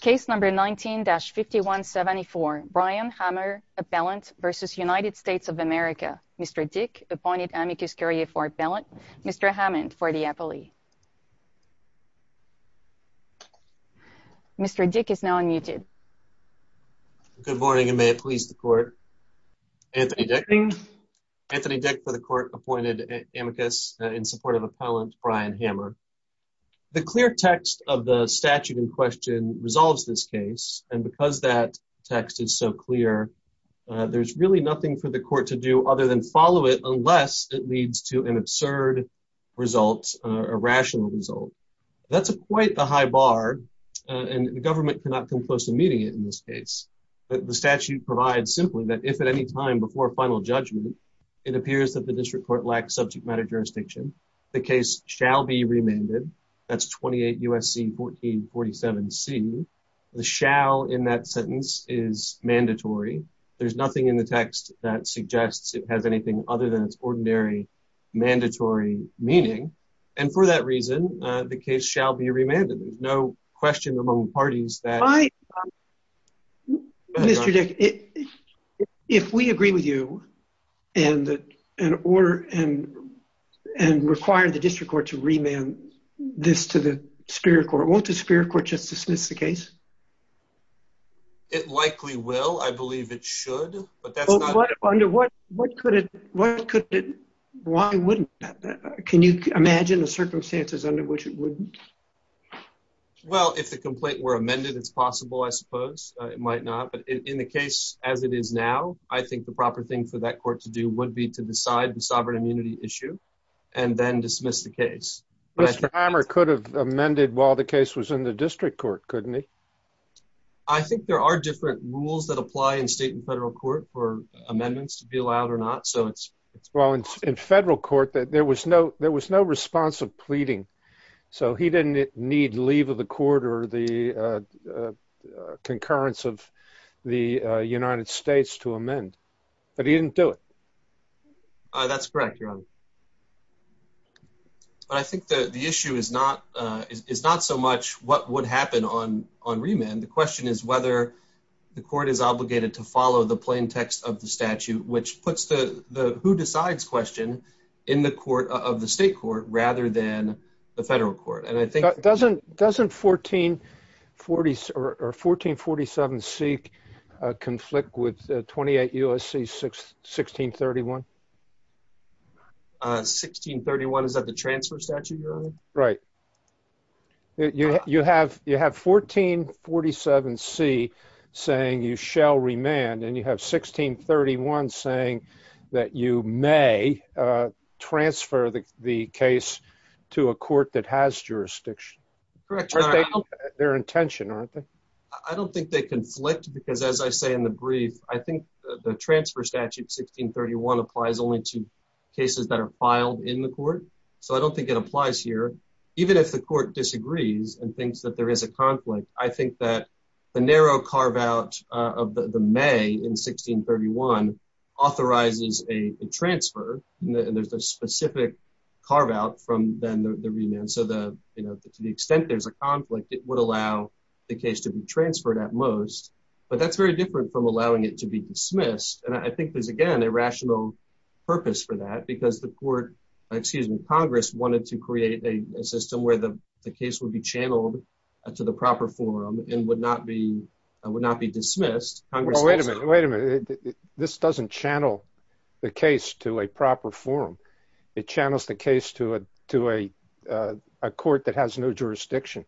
case number 19-5174 Brian Hammer appellant versus United States of America Mr. Dick appointed amicus curiae for appellant Mr. Hammond for the appellee. Mr. Dick is now unmuted. Good morning and may it please the court Anthony Dick Anthony Dick for the court appointed amicus in support of statute in question resolves this case and because that text is so clear there's really nothing for the court to do other than follow it unless it leads to an absurd result a rational result that's a quite the high bar and the government cannot come close to meeting it in this case but the statute provides simply that if at any time before final judgment it appears that the district court lacks subject matter jurisdiction the case shall be remanded that's 28 USC 1447 C the shall in that sentence is mandatory there's nothing in the text that suggests it has anything other than its ordinary mandatory meaning and for that reason the case shall be remanded there's no question among parties that I Mr. Dick if we agree with you and an order and and require the district court to remand this to the Superior Court won't the Superior Court just dismiss the case it likely will I believe it should but that's under what what could it what could why wouldn't that can you imagine the circumstances under which it would well if the complaint were amended it's possible I suppose it might not but in the case as it is now I think the proper thing for that court to do would be to decide the sovereign immunity issue and then dismiss the case Mr. Hammer could have amended while the case was in the district court couldn't it I think there are different rules that apply in state and federal court for amendments to be allowed or not so it's well in federal court that there was no there was no response of pleading so he didn't need leave of the court or the that's correct your honor but I think the the issue is not is not so much what would happen on on remand the question is whether the court is obligated to follow the plaintext of the statute which puts the the who decides question in the court of the state court rather than the federal court and I think doesn't doesn't 1440 or 1447 seek conflict with 28 USC 6 1631 1631 is that the transfer statute right you have you have 1447 see saying you shall remand and you have 1631 saying that you may transfer the case to a court that has jurisdiction their intention aren't they I don't think they conflict because as I say in the brief I think the transfer statute 1631 applies only to cases that are filed in the court so I don't think it applies here even if the court disagrees and thinks that there is a conflict I think that the narrow carve out of the May in 1631 authorizes a transfer and there's a specific carve out from then the remand so the you know to the extent there's a conflict it would allow the case to be transferred at most but that's very different from allowing it to be dismissed and I think there's again a rational purpose for that because the court excuse me Congress wanted to create a system where the case would be channeled to the proper forum and would not be I would not be dismissed wait a minute this doesn't channel the case to a proper forum it channels the case to it to a court that has no jurisdiction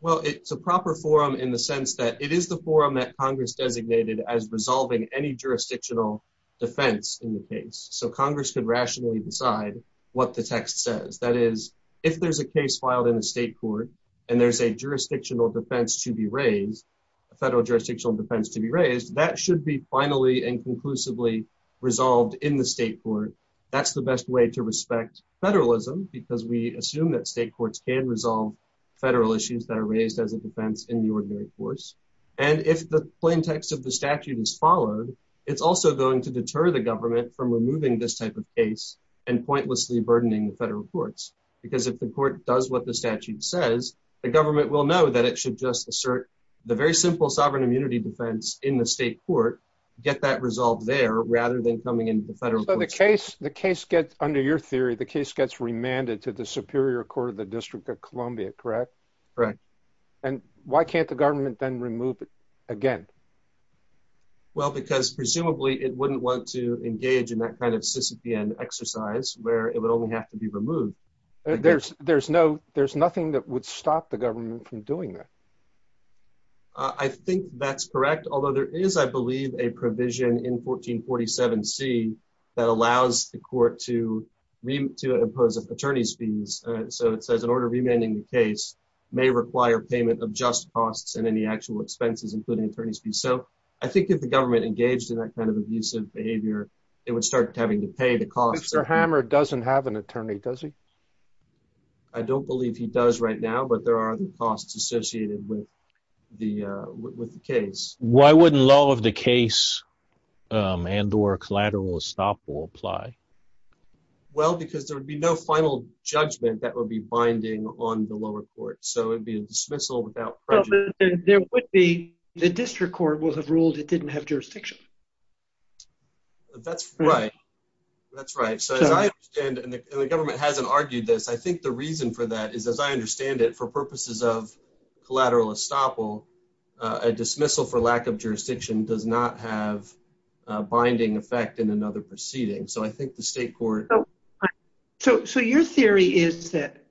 well it's a proper forum in the sense that it is the forum that Congress designated as resolving any jurisdictional defense in the case so Congress could rationally decide what the text says that is if there's a case filed in a state court and there's a jurisdictional defense to be raised a federal jurisdictional defense to be raised that should be finally and conclusively resolved in the state court that's the best way to respect federalism because we assume that state courts can resolve federal issues that are raised as a defense in the ordinary course and if the plain text of the statute is followed it's also going to deter the government from removing this type of case and pointlessly burdening the federal courts because if the court does what the statute says the government will know that it should just assert the very simple sovereign immunity defense in the state court get that resolved there rather than coming in the federal case the case gets under your theory the case gets remanded to the Superior Court of the District of Columbia correct right and why can't the government then remove it again well because presumably it wouldn't want to engage in that kind of Sisyphean exercise where it would only have to be removed there's there's no there's nothing that would stop the government from doing that I think that's correct although there is I 7c that allows the court to read to impose attorneys fees so it says in order remaining the case may require payment of just costs and any actual expenses including attorneys be so I think if the government engaged in that kind of abusive behavior it would start having to pay the cost sir hammer doesn't have an attorney does he I don't believe he does right now but there are costs associated with the with the case why wouldn't law of the case and or collateral stop will apply well because there would be no final judgment that would be binding on the lower court so it'd be a dismissal without there would be the district court will have ruled it didn't have jurisdiction that's right that's right so the government hasn't argued this I think the reason for that is as I understand it for purposes of collateral estoppel a dismissal for lack of jurisdiction does not have binding effect in another proceeding so I think the state court so so your theory is that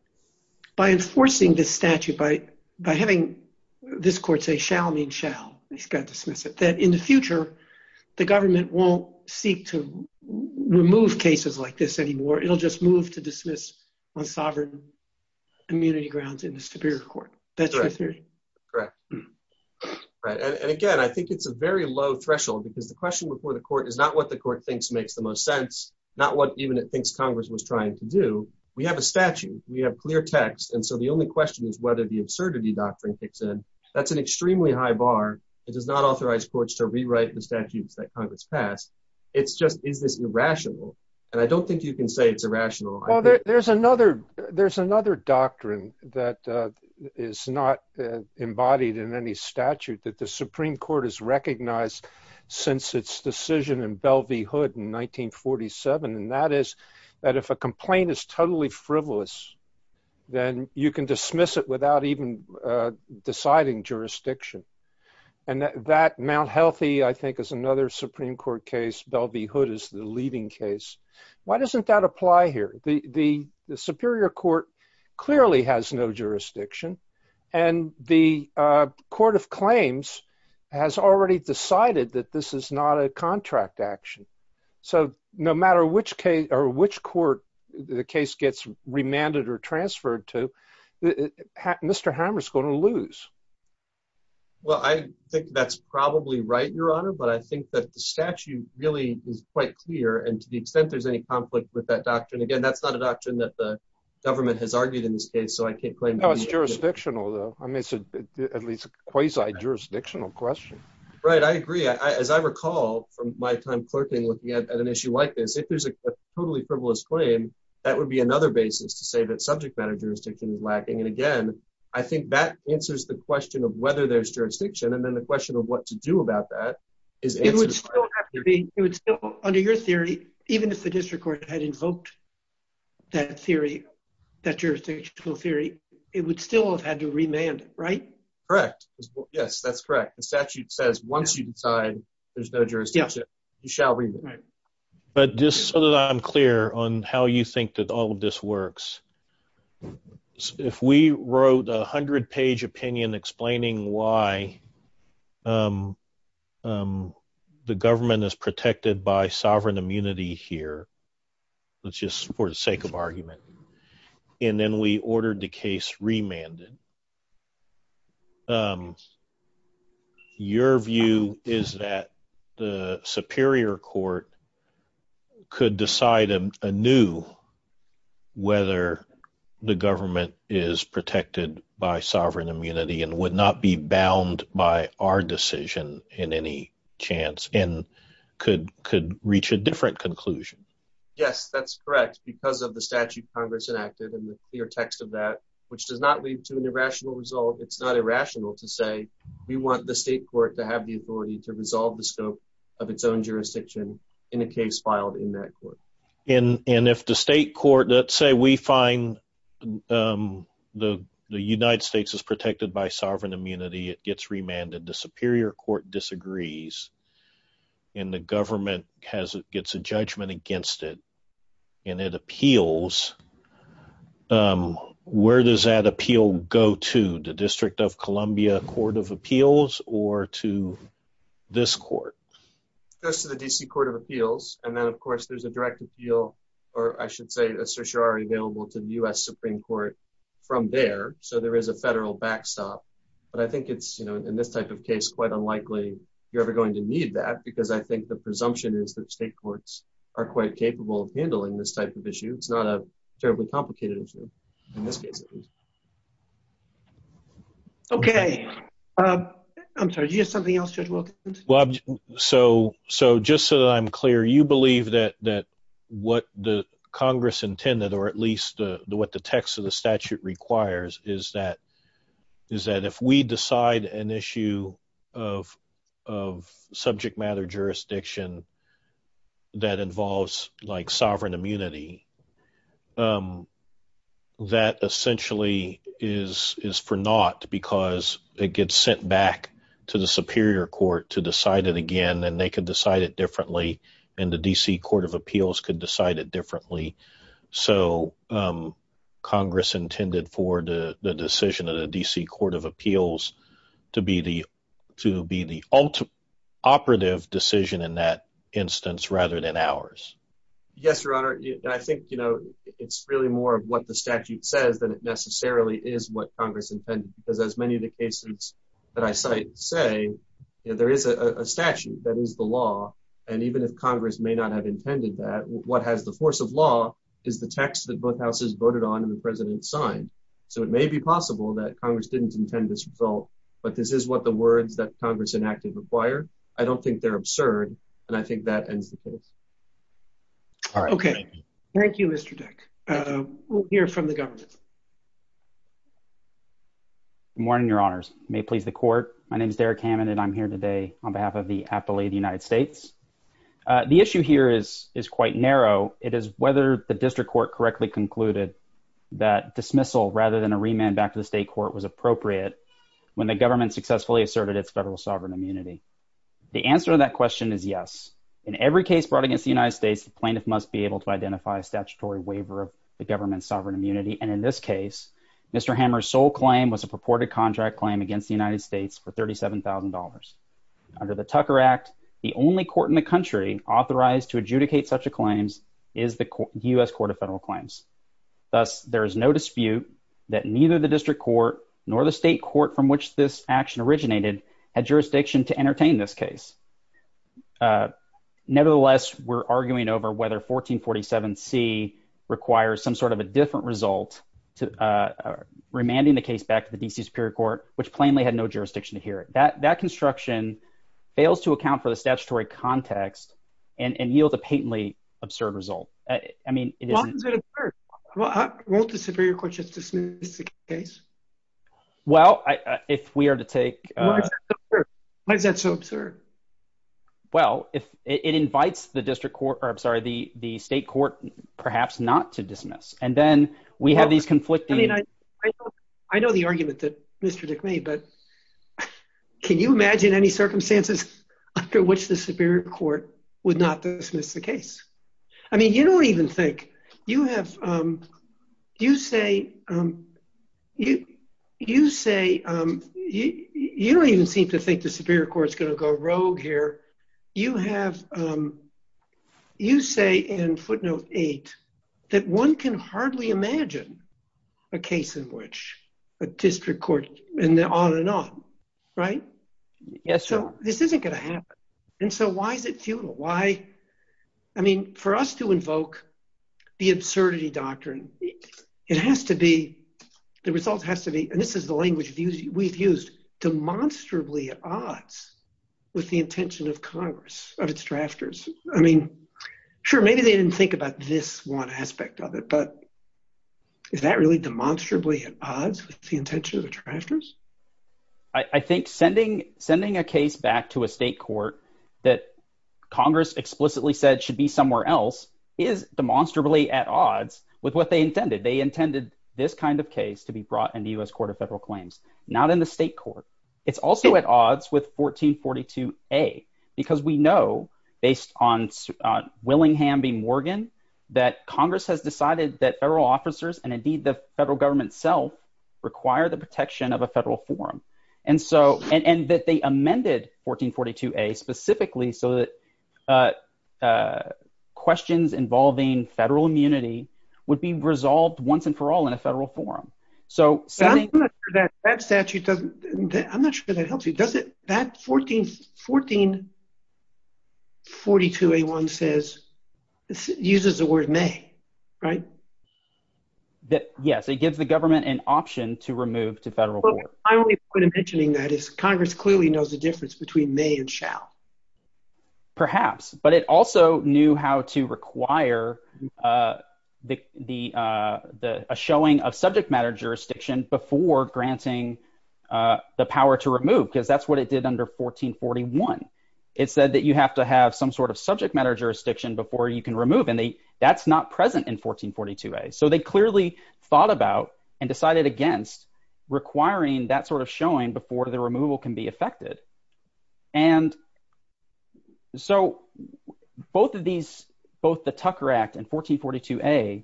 by enforcing this statute by by having this court say shall mean shall he's got to dismiss it that in the future the government won't seek to remove cases like this anymore it'll just move to dismiss on sovereign immunity grounds in the Superior Court that's right correct and again I think it's a very low threshold because the question before the court is not what the court thinks makes the most sense not what even it thinks Congress was trying to do we have a statute we have clear text and so the only question is whether the absurdity doctrine kicks in that's an extremely high bar it does not authorize courts to rewrite the statutes that Congress passed it's just is this irrational and I don't think you can say it's a rational there's another there's another doctrine that is not embodied in any statute that the Supreme Court has recognized since its decision in Bell v Hood in 1947 and that is that if a complaint is totally frivolous then you can dismiss it without even deciding jurisdiction and that Mount Healthy I think is another Supreme Court case Bell v Hood is the leading case why doesn't that apply here the the Superior Court clearly has no jurisdiction and the Court of Claims has already decided that this is not a contract action so no matter which case or which court the case gets remanded or transferred to mr. Hammers going to lose well I think that's probably right your honor but I think that the statute really is quite clear and to the extent there's any conflict with that doctrine again that's not a doctrine that the government has argued in this case so I can't claim that was jurisdictional though I miss it at least a quasi jurisdictional question right I agree as I recall from my time clerking looking at an issue like this if there's a totally frivolous claim that would be another basis to say that subject matter jurisdiction is lacking and again I think that answers the question of whether there's jurisdiction and then the question of what to do about that is under your theory even if the district court had invoked that theory that jurisdictional theory it would still have had to remand it right correct yes that's correct the statute says once you decide there's no jurisdiction you shall read it but just so that I'm clear on how you think that all of this works if we wrote a hundred page opinion explaining why the government is protected by sovereign immunity here let's just for the sake of argument and then we ordered the case remanded your view is that the Superior Court could decide a new whether the government is protected by sovereign immunity and would not be bound by our decision in any chance and could could reach a different conclusion yes that's correct because of the statute Congress enacted and the clear text of that which does not lead to an irrational result it's not irrational to say we want the state court to have the authority to resolve the scope of its own jurisdiction in a case filed in that court and and if the state court let's say we find the the United States is protected by sovereign immunity it gets remanded the Superior Court disagrees and the government has it gets a judgment against it and it appeals where does that appeal go to the court goes to the DC Court of Appeals and then of course there's a direct appeal or I should say a certiorari available to the US Supreme Court from there so there is a federal backstop but I think it's you know in this type of case quite unlikely you're ever going to need that because I think the presumption is that state courts are quite capable of handling this type of issue it's not a terribly complicated issue in this case okay I'm sorry do you have something well so so just so that I'm clear you believe that that what the Congress intended or at least what the text of the statute requires is that is that if we decide an issue of subject matter jurisdiction that involves like sovereign immunity that essentially is is for naught because it gets sent back to the Superior Court to decide it again and they could decide it differently and the DC Court of Appeals could decide it differently so Congress intended for the decision of the DC Court of Appeals to be the to be the ultimate operative decision in that instance rather than ours yes your honor I think you know it's really more of what the statute says than it necessarily is what Congress intended because as many of the cases that I say say there is a statute that is the law and even if Congress may not have intended that what has the force of law is the text that both houses voted on and the president signed so it may be possible that Congress didn't intend this result but this is what the words that Congress enacted require I don't think they're absurd and I think that ends the case okay thank you mr. deck here from the morning your honors may please the court my name is Derek Hammond and I'm here today on behalf of the Appalachian United States the issue here is is quite narrow it is whether the district court correctly concluded that dismissal rather than a remand back to the state court was appropriate when the government successfully asserted its federal sovereign immunity the answer to that question is yes in every case brought against the United States the plaintiff must be able to identify a statutory waiver of the government's sovereign immunity and in this case mr. hammers sole claim was a purported contract claim against the United States for $37,000 under the Tucker Act the only court in the country authorized to adjudicate such a claims is the US Court of Federal Claims thus there is no dispute that neither the district court nor the state court from which this action originated had jurisdiction to entertain this case nevertheless we're arguing over whether 1447 C requires some sort of a different result to remanding the case back to the DC Superior Court which plainly had no jurisdiction to hear it that that construction fails to account for the statutory context and and yield a patently absurd result I mean well I want the Superior Court just dismiss the case well if we are to take why is that so absurd well if it invites the district courts are the the state court perhaps not to dismiss and then we have these conflicting I know the argument that mr. dick me but can you imagine any circumstances after which the Superior Court would not dismiss the case I mean you don't even think you have you say you you say you don't even seem to think the Superior Court is gonna go rogue here you have you say in footnote 8 that one can hardly imagine a case in which a district court and they're on and on right yes so this isn't gonna happen and so why is it futile why I mean for us to invoke the absurdity doctrine it has to be the result has to be and this is the odds with the intention of Congress of its drafters I mean sure maybe they didn't think about this one aspect of it but is that really demonstrably at odds with the intention of the drafters I think sending sending a case back to a state court that Congress explicitly said should be somewhere else is demonstrably at odds with what they intended they intended this kind of case to be brought in the US Court of Federal Claims not in the state court it's also at odds with 1442 a because we know based on Willingham v Morgan that Congress has decided that federal officers and indeed the federal government self require the protection of a federal forum and so and that they amended 1442 a specifically so that questions involving federal immunity would be resolved once and for all in a federal forum so that statute doesn't I'm confused does it that 14 1442 a one says uses the word may right that yes it gives the government an option to remove to federal court I'm mentioning that is Congress clearly knows the difference between may and shall perhaps but it also knew how to require the the showing of subject matter jurisdiction before granting the power to remove because that's what it did under 1441 it said that you have to have some sort of subject matter jurisdiction before you can remove any that's not present in 1442 a so they clearly thought about and decided against requiring that sort of showing before the removal can be affected and so both of these both the Tucker Act and 1442 a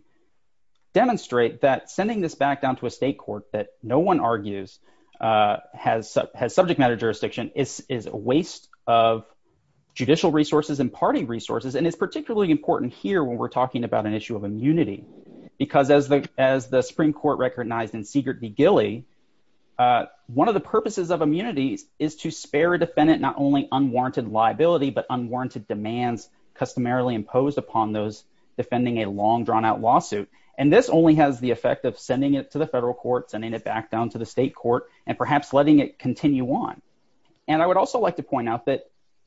demonstrate that sending this back down to a state court that no one argues has has subject matter jurisdiction is is a waste of judicial resources and party resources and it's particularly important here when we're talking about an issue of immunity because as the as the Supreme Court recognized in Seegert v Gilly one of the purposes of immunities is to spare a defendant not only unwarranted liability but unwarranted demands customarily imposed upon those defending a long drawn-out lawsuit and this only has the effect of sending it to the federal courts and in it back down to the state court and perhaps letting it continue on and I would also like to point out that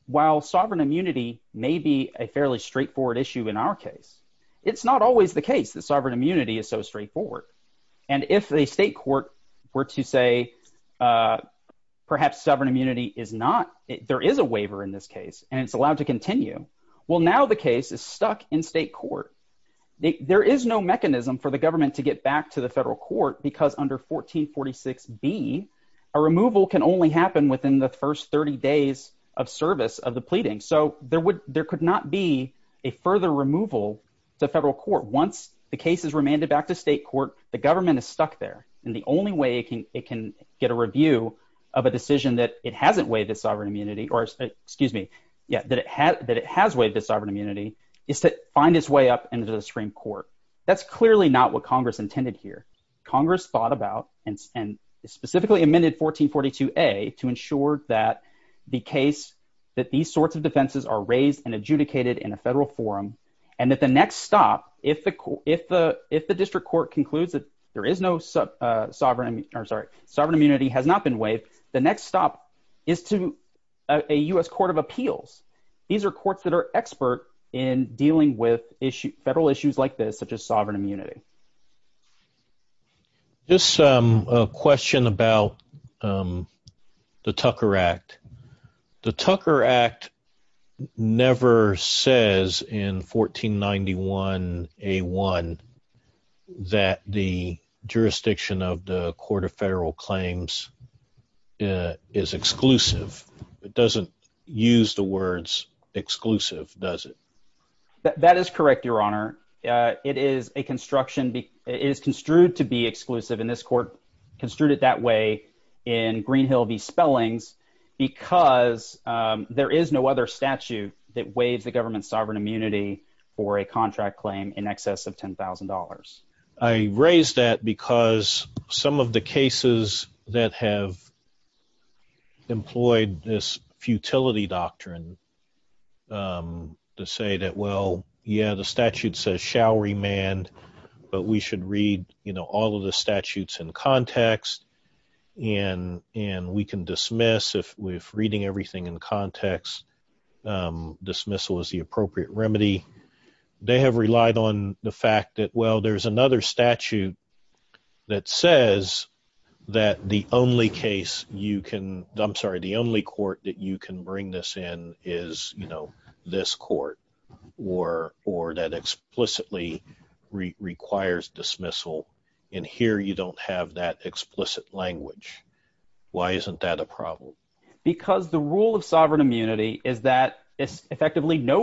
while sovereign immunity may be a fairly straightforward issue in our case it's not always the case that sovereign immunity is so straightforward and if the state court were to say perhaps sovereign immunity is not there is a waiver in this case and it's allowed to continue well now the case is stuck in state court there is no mechanism for the government to get back to the federal court because under 1446 be a removal can only happen within the first 30 days of service of the pleading so there would there could not be a further removal the federal court once the case is remanded back to state court the government is stuck there and the only way it can it can get a review of a decision that it hasn't waived its sovereign immunity or excuse me yeah that it had that it has waived its sovereign immunity is to find its way up into the Supreme Court that's clearly not what Congress intended here Congress thought about and specifically amended 1442 a to ensure that the case that these sorts of defenses are raised and adjudicated in a federal forum and that the next stop if the cool if the if the district court concludes that there is no sub sovereign I'm sorry sovereign immunity has not been waived the next stop is to a US Court of Appeals these are courts that are expert in dealing with issue federal issues like this such as sovereign immunity this question about the Tucker Act the Tucker Act never says in 1491 a one that the jurisdiction of the Court of Claims is exclusive it doesn't use the words exclusive does it that is correct your honor it is a construction be is construed to be exclusive in this court construed it that way in Greenhill v. Spellings because there is no other statute that waives the government's sovereign immunity for a contract claim in excess of $10,000 I raised that because some of the cases that have employed this futility doctrine to say that well yeah the statute says shall remand but we should read you know all of the statutes in context and and we can dismiss if we're reading everything in context dismissal is the appropriate remedy they have relied on the fact that well there's another statute that says that the only case you can dump sorry the only court that you can bring this in is you know this court or or that explicitly requires dismissal in here you don't have that explicit language why isn't that a problem because the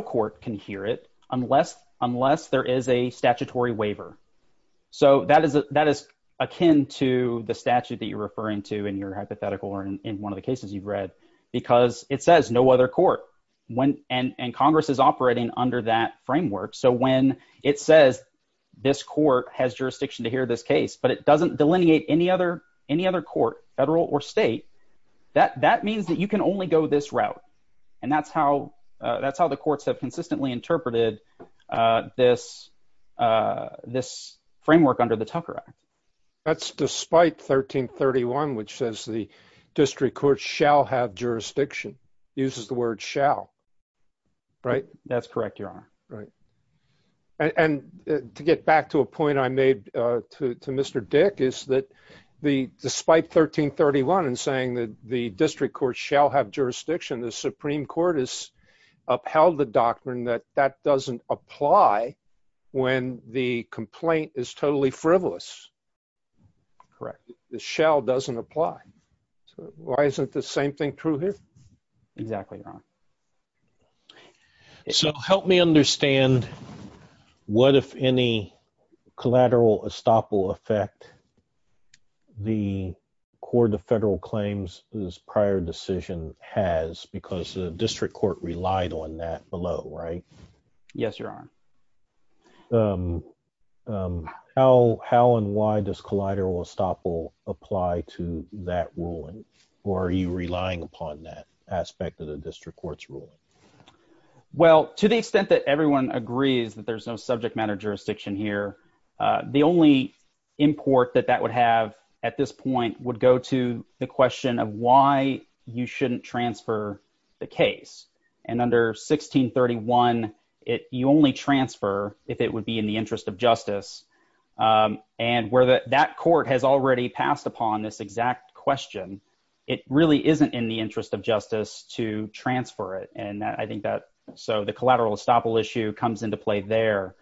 court can hear it unless unless there is a statutory waiver so that is that is akin to the statute that you're referring to in your hypothetical or in one of the cases you've read because it says no other court when and Congress is operating under that framework so when it says this court has jurisdiction to hear this case but it doesn't delineate any other any other court federal or state that that means that you can only go this route and that's how that's how the courts have consistently interpreted this this framework under the Tucker Act that's despite 1331 which says the district court shall have jurisdiction uses the word shall right that's correct your honor right and to get back to a point I made to mr. dick is that the despite 1331 and saying that the district court shall have jurisdiction the Supreme Court is upheld the doctrine that that doesn't apply when the complaint is totally frivolous correct the shell doesn't apply so why isn't the same thing true here exactly wrong so help me understand what if any collateral estoppel effect the court of prior decision has because the district court relied on that below right yes your honor how how and why does collateral estoppel apply to that ruling or are you relying upon that aspect of the district courts ruling well to the extent that everyone agrees that there's no subject matter jurisdiction here the only import that that would have at this point would go to the question of why you shouldn't transfer the case and under 1631 it you only transfer if it would be in the interest of justice and where that that court has already passed upon this exact question it really isn't in the interest of justice to transfer it and I think that so the collateral estoppel issue comes into play there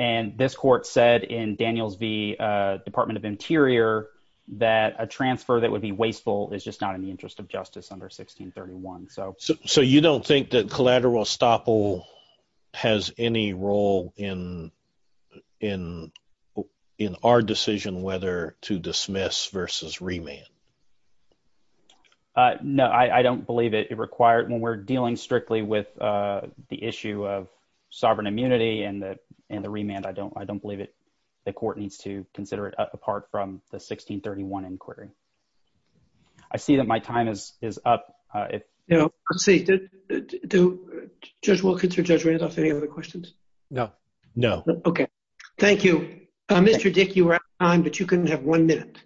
and this court said in Daniels v Department of Interior that a transfer that would be wasteful is just not in the interest of justice under 1631 so so you don't think that collateral estoppel has any role in in in our decision whether to dismiss versus remand no I I don't believe it it required when we're dealing strictly with the issue of sovereign immunity and that and the remand I don't I don't believe it the court needs to consider it apart from the 1631 inquiry I see that my time is is up if you know I'm seated do judge Wilkins or judge Randolph any other questions no no okay thank you mr. dick you were on but you couldn't have one minute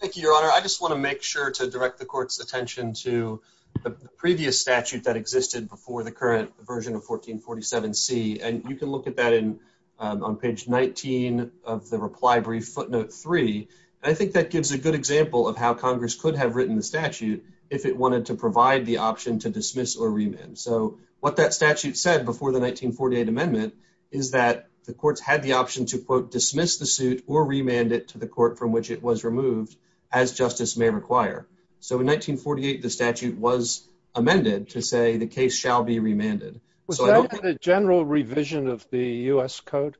thank you your honor I just want to make sure to direct the court's attention to the previous statute that existed before the current version of 1447 C and you can look at that in on page 19 of the reply brief footnote 3 and I think that gives a good example of how Congress could have written the statute if it wanted to provide the option to dismiss or remand so what that statute said before the 1948 amendment is that the courts had the option to quote dismiss the suit or remand it to the court from which it was removed as justice may require so in 1948 the statute was amended to say the case shall be remanded the general revision of the US Code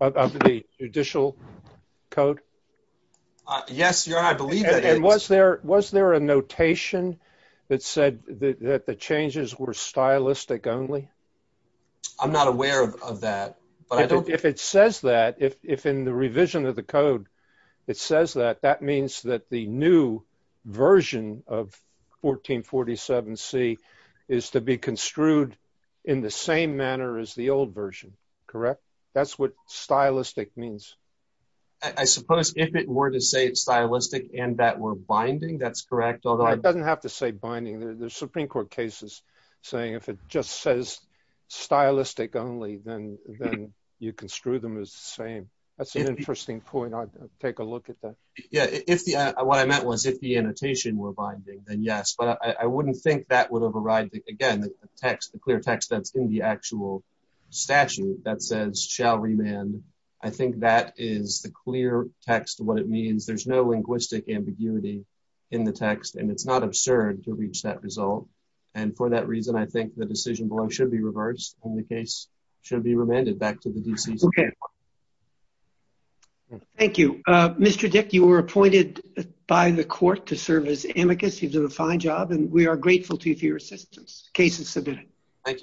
of the judicial code yes your I believe it was there was there a notation that said that the changes were stylistic only I'm not aware of that but I don't if it says that if in the revision of the code it says that that means that the new version of 1447 C is to be construed in the same manner as the old version correct that's what stylistic means I suppose if it were to say it's stylistic and that we're binding that's correct although it doesn't have to say binding there's Supreme Court cases saying if it just says stylistic only then then you can screw them as the same that's an interesting point I'd take a look at that yeah if the what I meant was if the annotation were binding then yes but I wouldn't think that would override the text the clear text that's in the actual statute that says shall remain I think that is the clear text what it means there's no linguistic ambiguity in the text and it's not absurd to reach that result and for that reason I think the decision below should be reversed in the case should be remanded back to the DC okay thank you mr. dick you were appointed by the court to serve as you did a fine job and we are grateful to you for your assistance cases submitted thank you